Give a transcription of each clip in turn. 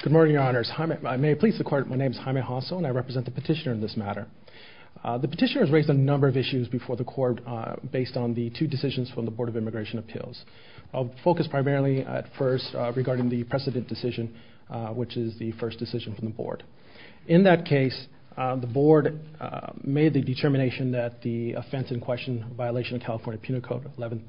Good morning, Your Honors. My name is Jaime Hosso and I represent the petitioner in this matter. The petitioner has raised a number of issues before the Court based on the two decisions from the Board of Immigration Appeals. I'll focus primarily at first regarding the precedent decision, which is the first decision from the Board. In that case, the Board made the determination that the offense in question, violation of California Penal Code 11.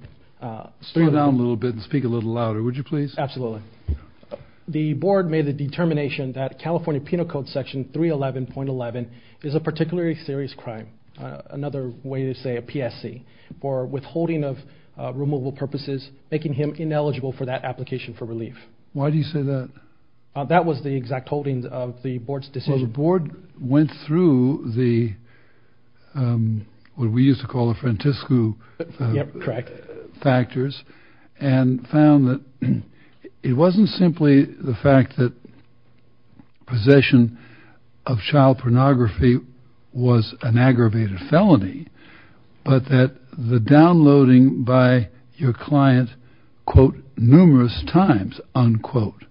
The Board made the determination that California Penal Code Section 311.11 is a particularly serious crime, another way to say a PSC, for withholding of removal purposes, making him ineligible for that application for relief. That was the exact holding of the Board's what we used to call a frantisco factors and found that it wasn't simply the fact that possession of child pornography was an aggravated felony, but that the downloading by your client, quote, numerous times, unquote,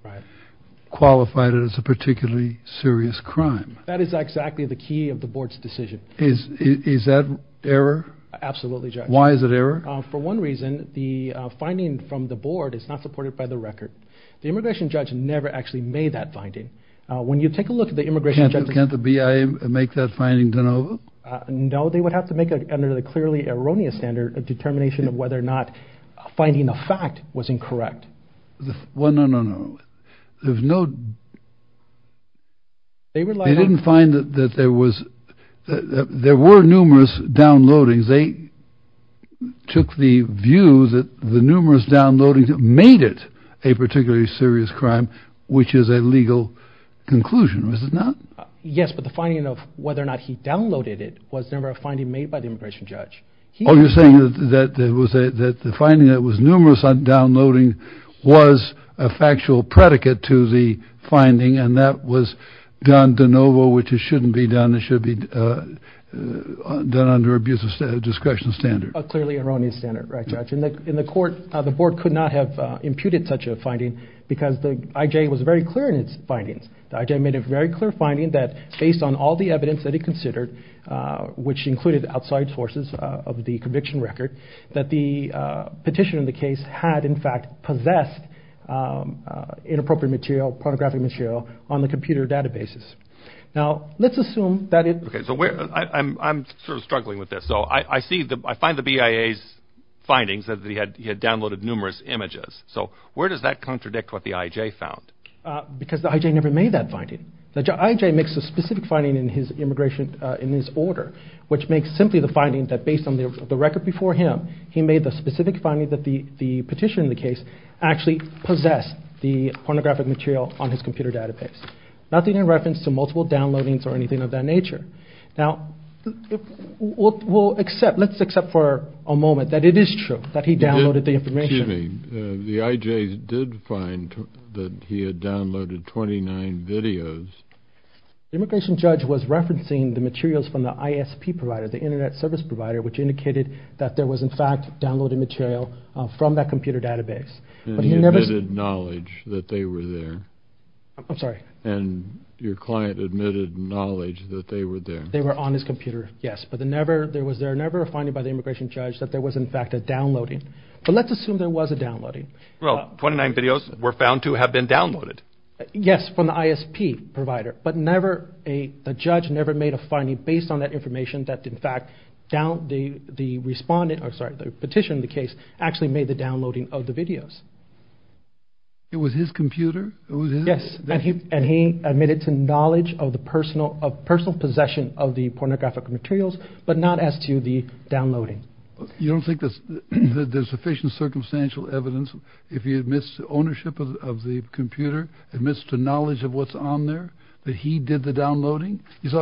qualified it as a particularly serious crime. That is exactly the key of the Board's decision. Is that error? Absolutely, Judge. Why is it error? For one reason, the finding from the Board is not supported by the record. The immigration judge never actually made that finding. When you take a look at the immigration... Can't the BIA make that finding de novo? No, they would have to make it under the clearly erroneous standard of determination of whether or not finding a fact was incorrect. Well, no, no, no. There's no... They didn't find that there was... There were numerous downloadings. They took the view that the numerous downloadings made it a particularly serious crime, which is a legal conclusion, is it not? Yes, but the finding of whether or not he downloaded it was never a finding made by the immigration judge. Oh, you're saying that the finding that was numerous on downloading was a factual predicate to the finding, and that was done de novo, which it shouldn't be done. It should be done under abuse of discretion standard. A clearly erroneous standard, right, Judge? In the court, the Board could not have imputed such a finding because the IJ was very clear in its findings. The IJ made a very clear finding that based on all the evidence that it considered, which included outside sources of the conviction record, that the petition in the case had, in fact, possessed inappropriate material, pornographic material, on the computer databases. Now, let's assume that it... Okay, so I'm sort of struggling with this. So I see the... I find the BIA's findings that he had downloaded numerous images. So where does that contradict what the IJ found? Because the IJ never made that finding. The IJ makes a specific finding in his immigration, in his order, which makes simply the finding that based on the record before him, he made a specific finding that the petition in the case actually possessed the pornographic material on his computer database. Nothing in reference to multiple downloadings or anything of that nature. Now, we'll accept, let's accept for a moment that it is true that he downloaded the information. Excuse me. The IJ did find that he had downloaded 29 videos. The immigration judge was referencing the materials from the ISP provider, the Internet Service Provider, which indicated that there was, in fact, downloaded material from that computer database. And he admitted knowledge that they were there. I'm sorry. And your client admitted knowledge that they were there. They were on his computer, yes. But there was never a finding by the immigration judge that there was, in fact, a downloading. But let's assume there was a downloading. Well, 29 videos were found to have been downloaded. Yes, from the ISP provider. But the judge never made a finding based on that petition. The case actually made the downloading of the videos. It was his computer. Yes. And he admitted to knowledge of the personal of personal possession of the pornographic materials, but not as to the downloading. You don't think that there's sufficient circumstantial evidence if he admits ownership of the computer, admits to knowledge of what's on there, that he did the downloading? Is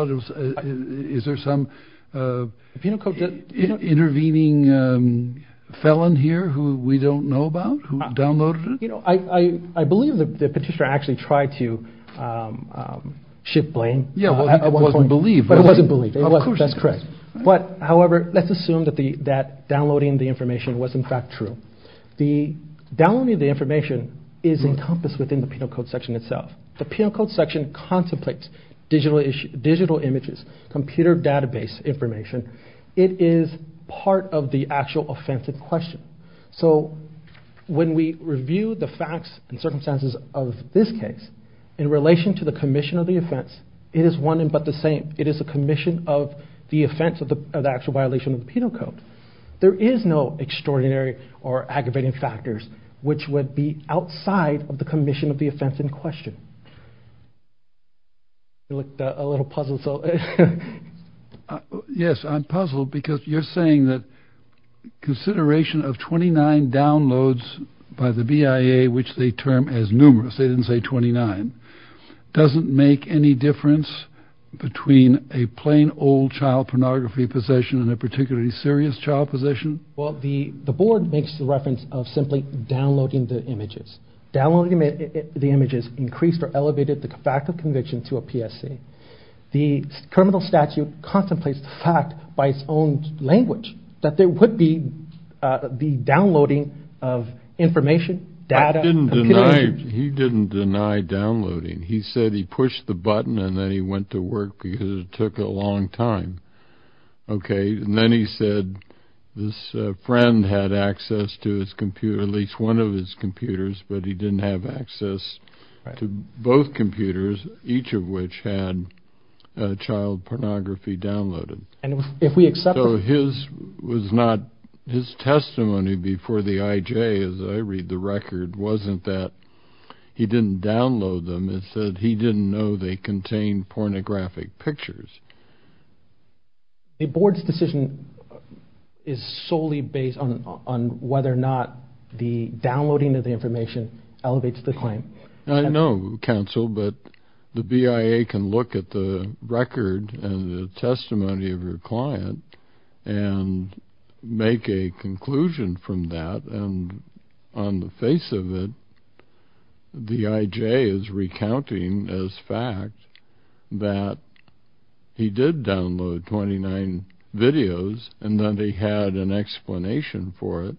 there some penal code intervening felon here who we don't know about, who downloaded it? You know, I believe the petitioner actually tried to shift blame. Yeah, it wasn't believed. But it wasn't believed. That's correct. But, however, let's assume that downloading the information was, in fact, true. The downloading of the information is encompassed within the penal code section itself. The penal code section contemplates digital images, computer database information. It is part of the actual offense in question. So when we review the facts and circumstances of this case in relation to the commission of the offense, it is one and but the same. It is the commission of the offense of the actual violation of the penal code. There is no extraordinary or aggravating factors which would be outside of the commission of the offense in question. You looked a little puzzled. Yes, I'm puzzled because you're saying that consideration of 29 downloads by the BIA, which they term as numerous, they didn't say 29, doesn't make any difference between a plain old child pornography possession and a particularly serious child possession? Well, the board makes the reference of simply downloading the images. Downloading the images increased or elevated the fact of conviction to a PSC. The criminal statute contemplates the fact by its own language that there would be the downloading of information, data. I didn't deny, he didn't deny downloading. He said he pushed the button and then he went to his computer, at least one of his computers, but he didn't have access to both computers, each of which had child pornography downloaded. His testimony before the IJ, as I read the record, wasn't that he didn't download them. It said he didn't know they contained pornographic pictures. The board's decision is solely based on whether or not the downloading of the information elevates the claim. I know, counsel, but the BIA can look at the record and the testimony of your client and make a conclusion from that, and on the face of it, the IJ is recounting as fact that he did download 29 videos and that he had an explanation for it,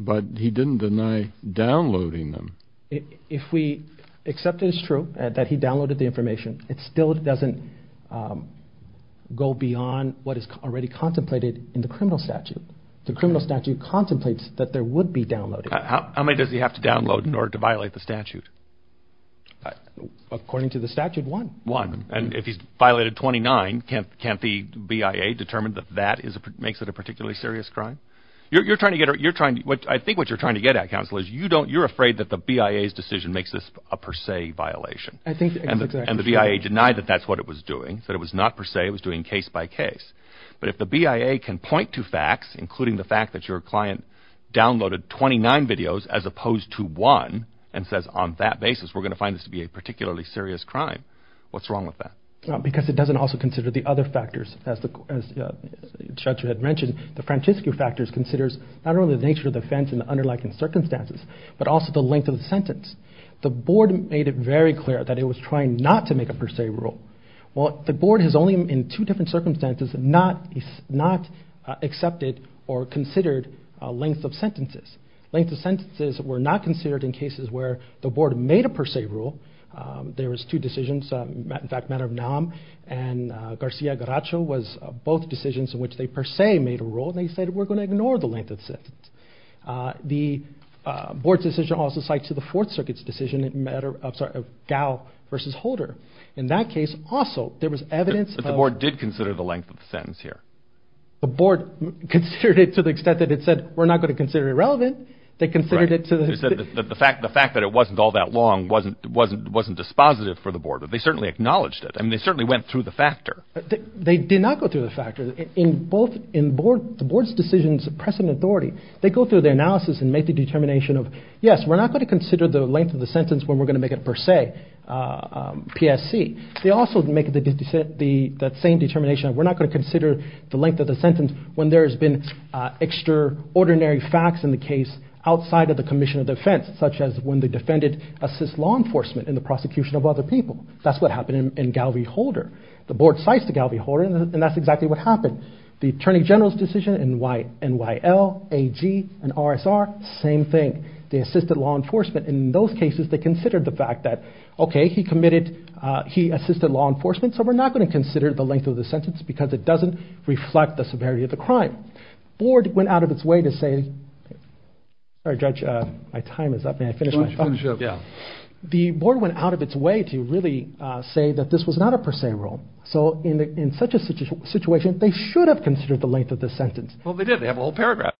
but he didn't deny downloading them. If we accept it as true that he downloaded the information, it still doesn't go beyond what is already contemplated in the criminal statute. The criminal statute contemplates that there would be downloading. How many does he have to download in order to violate the statute? According to the statute, one. One. And if he's violated 29, can't the BIA determine that that makes it a particularly serious crime? I think what you're trying to get at, counsel, is you're afraid that the BIA's decision makes this a per se violation, and the BIA denied that that's what it was doing, that it was not per se, it was doing case by case. But if the BIA can point to facts, including the fact that your client downloaded 29 videos as opposed to one, and says on that basis we're going to find this to be a particularly serious crime, what's wrong with that? Because it doesn't also consider the other factors, as the judge had mentioned. The Francesco factors considers not only the nature of the offense and the underlying circumstances, but also the length of the sentence. The board made it very clear that it was trying not to make a per se rule. Well, the board has only, in two different circumstances, not accepted or considered length of sentences. Length of sentences were not considered in cases where the board made a per se rule. There was two decisions, in fact matter of NAM, and Garcia-Garacho was both decisions in which they per se made a rule, and they said we're going to ignore the length of sentence. The board's decision also cites to the Fourth Circuit's decision in matter of, sorry, Garacho versus Holder. In that case, also, there was evidence that the board did consider the length of the sentence here. The board considered it to the extent that it said we're not going to consider it irrelevant. They considered it to the extent that the fact that it wasn't all that long wasn't dispositive for the board, but they certainly acknowledged it, and they certainly went through the factor. They did not go through the factor. In both, in the board's decisions of precedent authority, they go through their analysis and make the determination of, yes, we're not going to consider the length of the sentence when we're going to make it per se, PSC. They also make the same determination of we're not going to consider the length of the sentence when there has been extraordinary facts in the case outside of the commission of defense, such as when the defendant assists law enforcement in the prosecution of other people. That's what happened in Galvey-Holder. The board cites to Galvey-Holder, and that's exactly what happened. The Attorney General's decision in NYL, AG, and RSR, same thing. They assisted law enforcement, and in those cases, they considered the fact that, okay, he committed, he assisted law enforcement, so we're not going to consider the length of the sentence because it doesn't reflect the severity of the crime. The board went out of its way to really say that this was not a per se rule. So in such a situation, they should have considered the length of the sentence. Well, they did. They have a whole paragraph.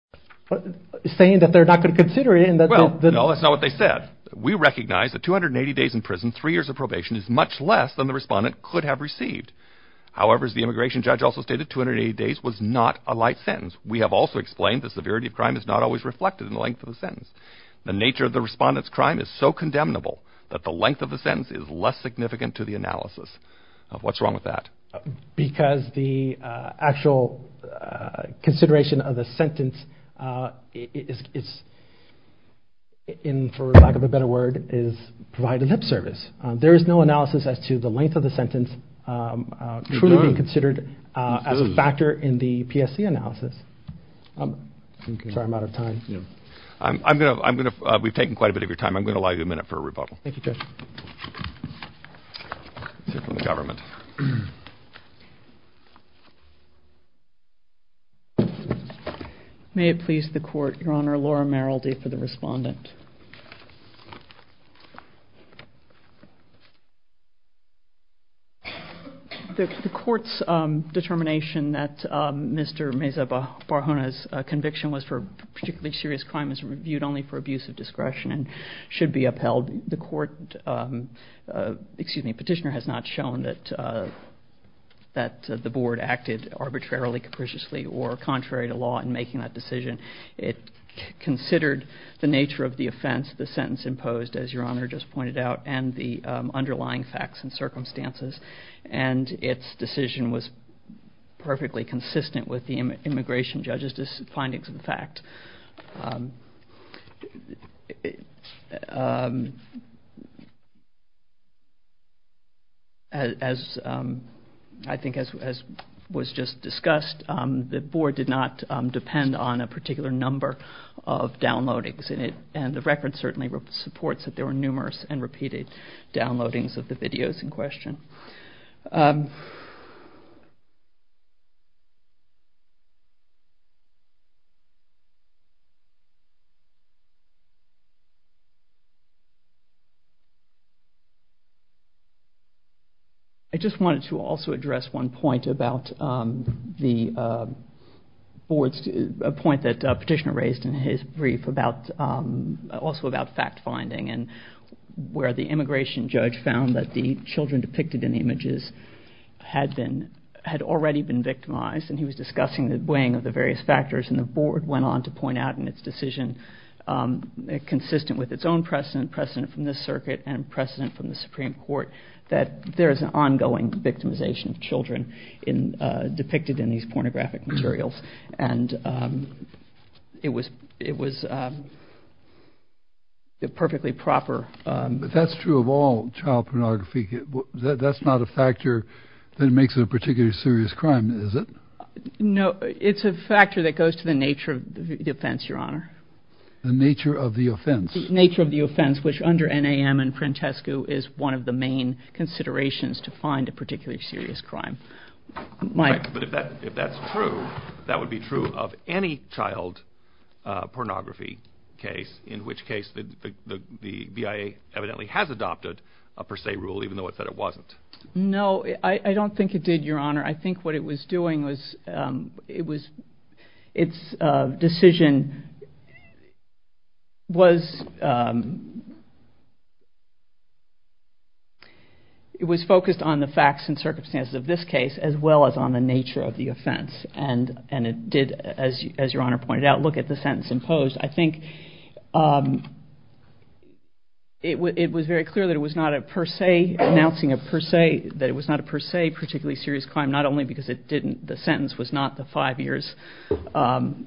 Saying that they're not going to consider it. No, that's not what they said. We recognize that 280 days in prison, three years of probation is much less than the respondent could have received. However, as the immigration judge also stated, 280 days was not a light sentence. We have also explained the severity of crime is not always reflected in the length of the sentence. The nature of the respondent's crime is so condemnable that the length of the sentence is less significant to the analysis. What's wrong with that? Because the actual consideration of the sentence is, for lack of a better word, is providing lip service. There is no analysis as to the length of the sentence truly being considered as a factor in the PSC analysis. Sorry, I'm out of time. Yeah. We've taken quite a bit of your time. I'm going to allow you a minute for a rebuttal. Thank you, Judge. Let's hear from the government. May it please the Court, Your Honor, Laura Merrildy for the respondent. The Court's determination that Mr. Meza-Barjona's conviction was for particularly serious crime is reviewed only for abuse of discretion and should be upheld. The petitioner has not shown that the Board acted arbitrarily, capriciously, or contrary to law in making that decision. It considered the nature of the offense, the sentence imposed, as Your Honor just pointed out, and the underlying facts and circumstances. And its decision was perfectly consistent with the immigration judge's findings of the fact. As I think was just discussed, the Board did not depend on a particular number of downloadings. And the record certainly supports that there were numerous and repeated downloadings of the videos in question. I just wanted to also address one point about the Board's, a point that the petitioner raised in his brief about, also about fact-finding and where the immigration judge found that the children depicted in the images had already been victimized. And he was discussing the weighing of the various factors. And the Board went on to point out in its decision, consistent with its own precedent, precedent from this circuit, and precedent from the Supreme Court, that there is an ongoing victimization of children depicted in these pornographic materials. And it was, it was a perfectly proper. But that's true of all child pornography. That's not a factor that makes it a particularly serious crime, is it? No, it's a factor that goes to the nature of the offense, Your Honor. The nature of the offense. The nature of the offense, which under NAM and Prentescu is one of the main considerations to find a particularly serious crime. But if that, if that's true, that would be true of any child pornography case, in which case the BIA evidently has adopted a per se rule, even though it said it wasn't. No, I don't think it did, Your Honor. I think what it was doing was, it was, its decision was, it was focused on the facts and circumstances of this case. As well as on the nature of the offense. And it did, as Your Honor pointed out, look at the sentence imposed. I think it was very clear that it was not a per se, announcing a per se, that it was not a per se particularly serious crime. Not only because it didn't, the sentence was not the five years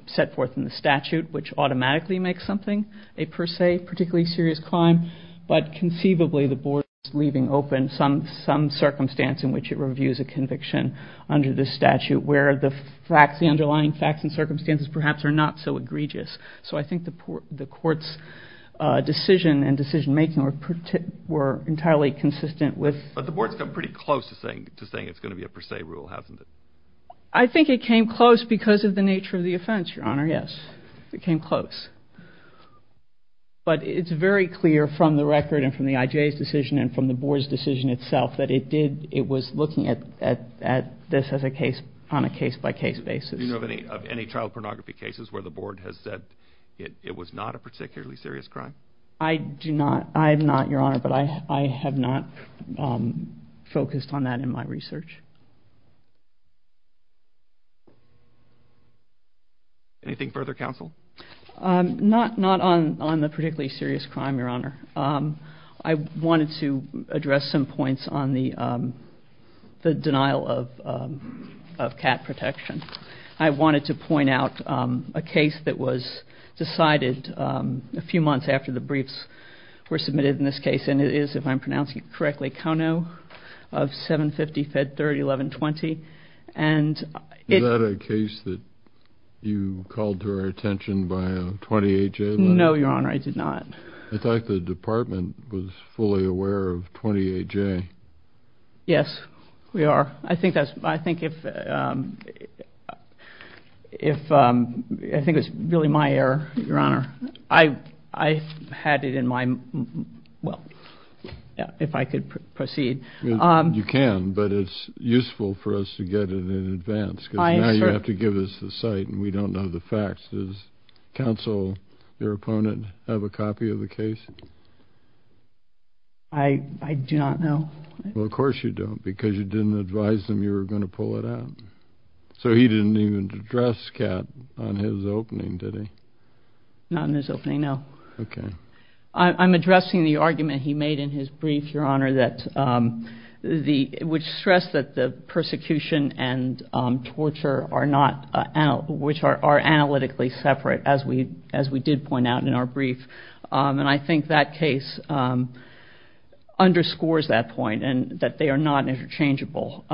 set forth in the statute, which automatically makes something a per se particularly serious crime. But conceivably the board is leaving open some, some circumstance in which it reviews a conviction under the statute where the facts, the underlying facts and circumstances perhaps are not so egregious. So I think the court's decision and decision making were entirely consistent with... But the board's come pretty close to saying it's going to be a per se rule, hasn't it? I think it came close because of the nature of the offense, Your Honor, yes. It came close. But it's very clear from the record and from the IJ's decision and from the board's decision itself that it did, it was looking at, at, at this as a case, on a case by case basis. Do you know of any, of any child pornography cases where the board has said it, it was not a particularly serious crime? I do not, I have not, Your Honor, but I, I have not focused on that in my research. Anything further, counsel? Not, not on, on the particularly serious crime, Your Honor. I wanted to address some points on the, the denial of, of cat protection. I wanted to point out a case that was decided a few months after the briefs were submitted in this case and it is, if I'm pronouncing it correctly, Kono of 750-Fed-30-11-20. And it... Is that a case that you called to our attention by a 28-J letter? No, Your Honor, I did not. I thought the department was fully aware of 28-J. Yes, we are. I think that's, I think if, if, I think it was really my error, Your Honor, I, I had it in my, well, if I could proceed. You can, but it's useful for us to get it in advance because now you have to give us the site and we don't know the facts. Does counsel, your opponent, have a copy of the case? I, I do not know. Well, of course you don't because you didn't advise them you were going to pull it out. So he didn't even address cat on his opening, did he? Not on his opening, no. Okay. I, I'm addressing the argument he made in his brief, Your Honor, that the, which stressed that the persecution and torture are not, which are, are analytically separate, as we, as we did point out in our brief. And I think that case underscores that point and that they are not interchangeable.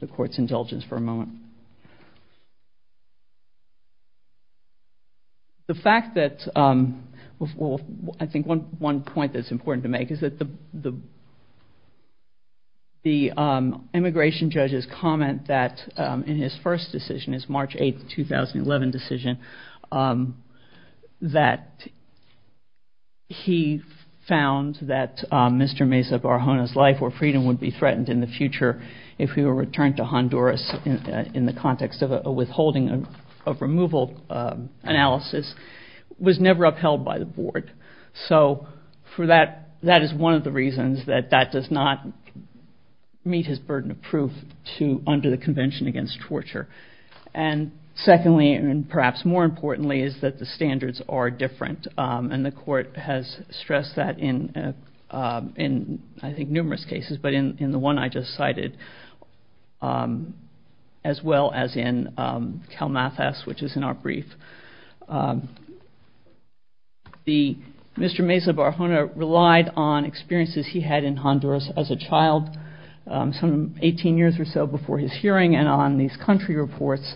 The court's indulgence for a moment. The fact that, well, I think one, one point that's important to make is that the, the, the immigration judge's comment that in his first decision, his March 8, 2011 decision, that he found that Mr. Mesa Barjona's life or freedom would be better in the future if he were returned to Honduras in, in the context of a withholding of removal analysis was never upheld by the board. So for that, that is one of the reasons that that does not meet his burden of proof to, under the Convention Against Torture. And secondly, and perhaps more importantly, is that the standards are different. And the court has stressed that in, in I think numerous cases, but in, in the one I just cited, as well as in CalMathS, which is in our brief. The, Mr. Mesa Barjona relied on experiences he had in Honduras as a child, some 18 years or so before his hearing, and on these country reports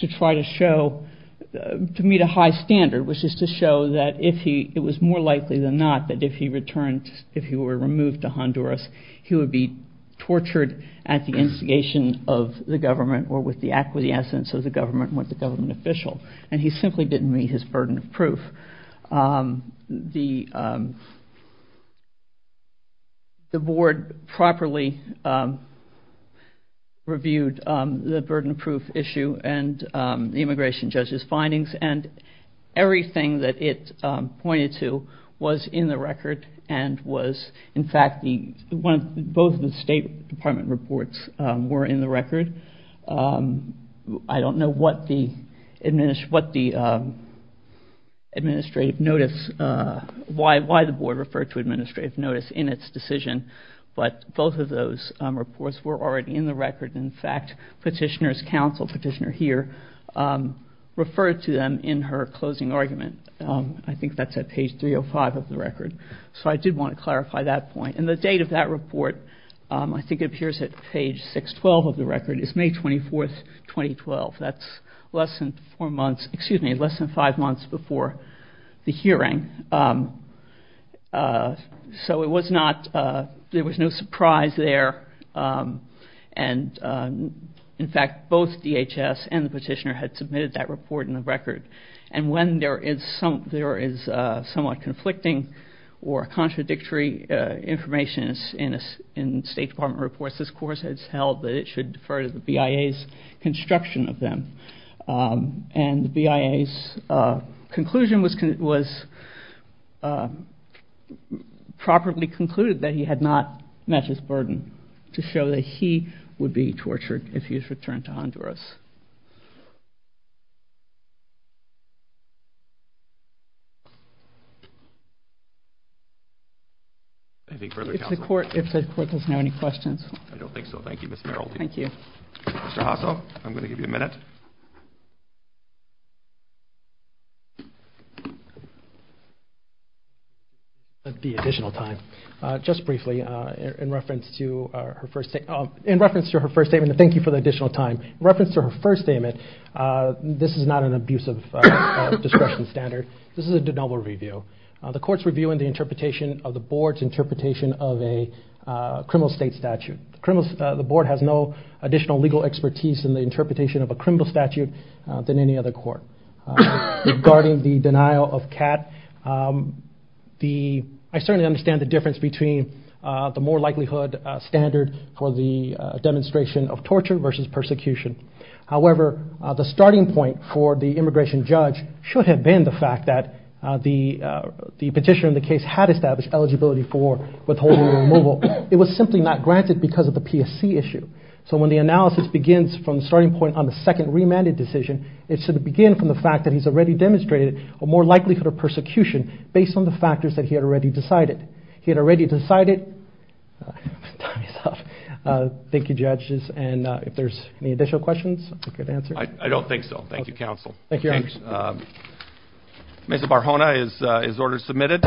to try to show, to meet a high standard, which is to show that if he, it was more likely than not, that if he returned, if he were removed to Honduras, he would be tortured at the instigation of the government or with the acquiescence of the government and with the government official. And he simply didn't meet his burden of proof. The, the board properly reviewed the burden of proof issue and the immigration judge's findings and everything that it pointed to was in the record and was, in fact, the, both the State Department reports were in the record. I don't know what the, what the administrative notice, why, why the board referred to administrative notice in its decision, but both of those reports were already in the record. In fact, petitioner's counsel, petitioner here, referred to them in her closing argument. I think that's at page 305 of the record. So I did want to clarify that point. And the date of that report, I think it appears at page 612 of the record, is May 24th, 2012. That's less than four months, excuse me, less than five months before the hearing. So it was not, there was no surprise there. And, in fact, both DHS and the petitioner had submitted that report in the record. And when there is some, there is somewhat conflicting or contradictory information in State Department reports, this course has held that it should defer to the BIA's construction of them. And the BIA's conclusion was, was properly concluded that he had not met his burden to show that he would be tortured if he was returned to Honduras. If the court, if the court does not have any questions. I don't think so. Thank you, Ms. Merrill. Thank you. Mr. Hassell, I'm going to give you a minute. The additional time. Just briefly, in reference to her first, in reference to her first statement, thank you for the additional time. In reference to her first statement, this is not an abuse of discretion standard. This is a de novo review. The court's reviewing the interpretation of the board's interpretation of a criminal state statute. The board has no additional legal expertise in the interpretation of a criminal statute than any other court. Regarding the denial of CAT, I certainly understand the difference between the more likelihood standard for the demonstration of torture versus persecution. However, the starting point for the immigration judge should have been the fact that the petitioner in the case had established eligibility for withholding removal. It was simply not granted because of the PSC issue. So when the analysis begins from the starting point on the second remanded decision, it should begin from the fact that he's already demonstrated a more likelihood of persecution based on the factors that he had already decided. He had already decided. Time is up. Thank you, judges. And if there's any additional questions, I can answer. I don't think so. Thank you, counsel. Thank you. Ms. Barjona is ordered to submit it.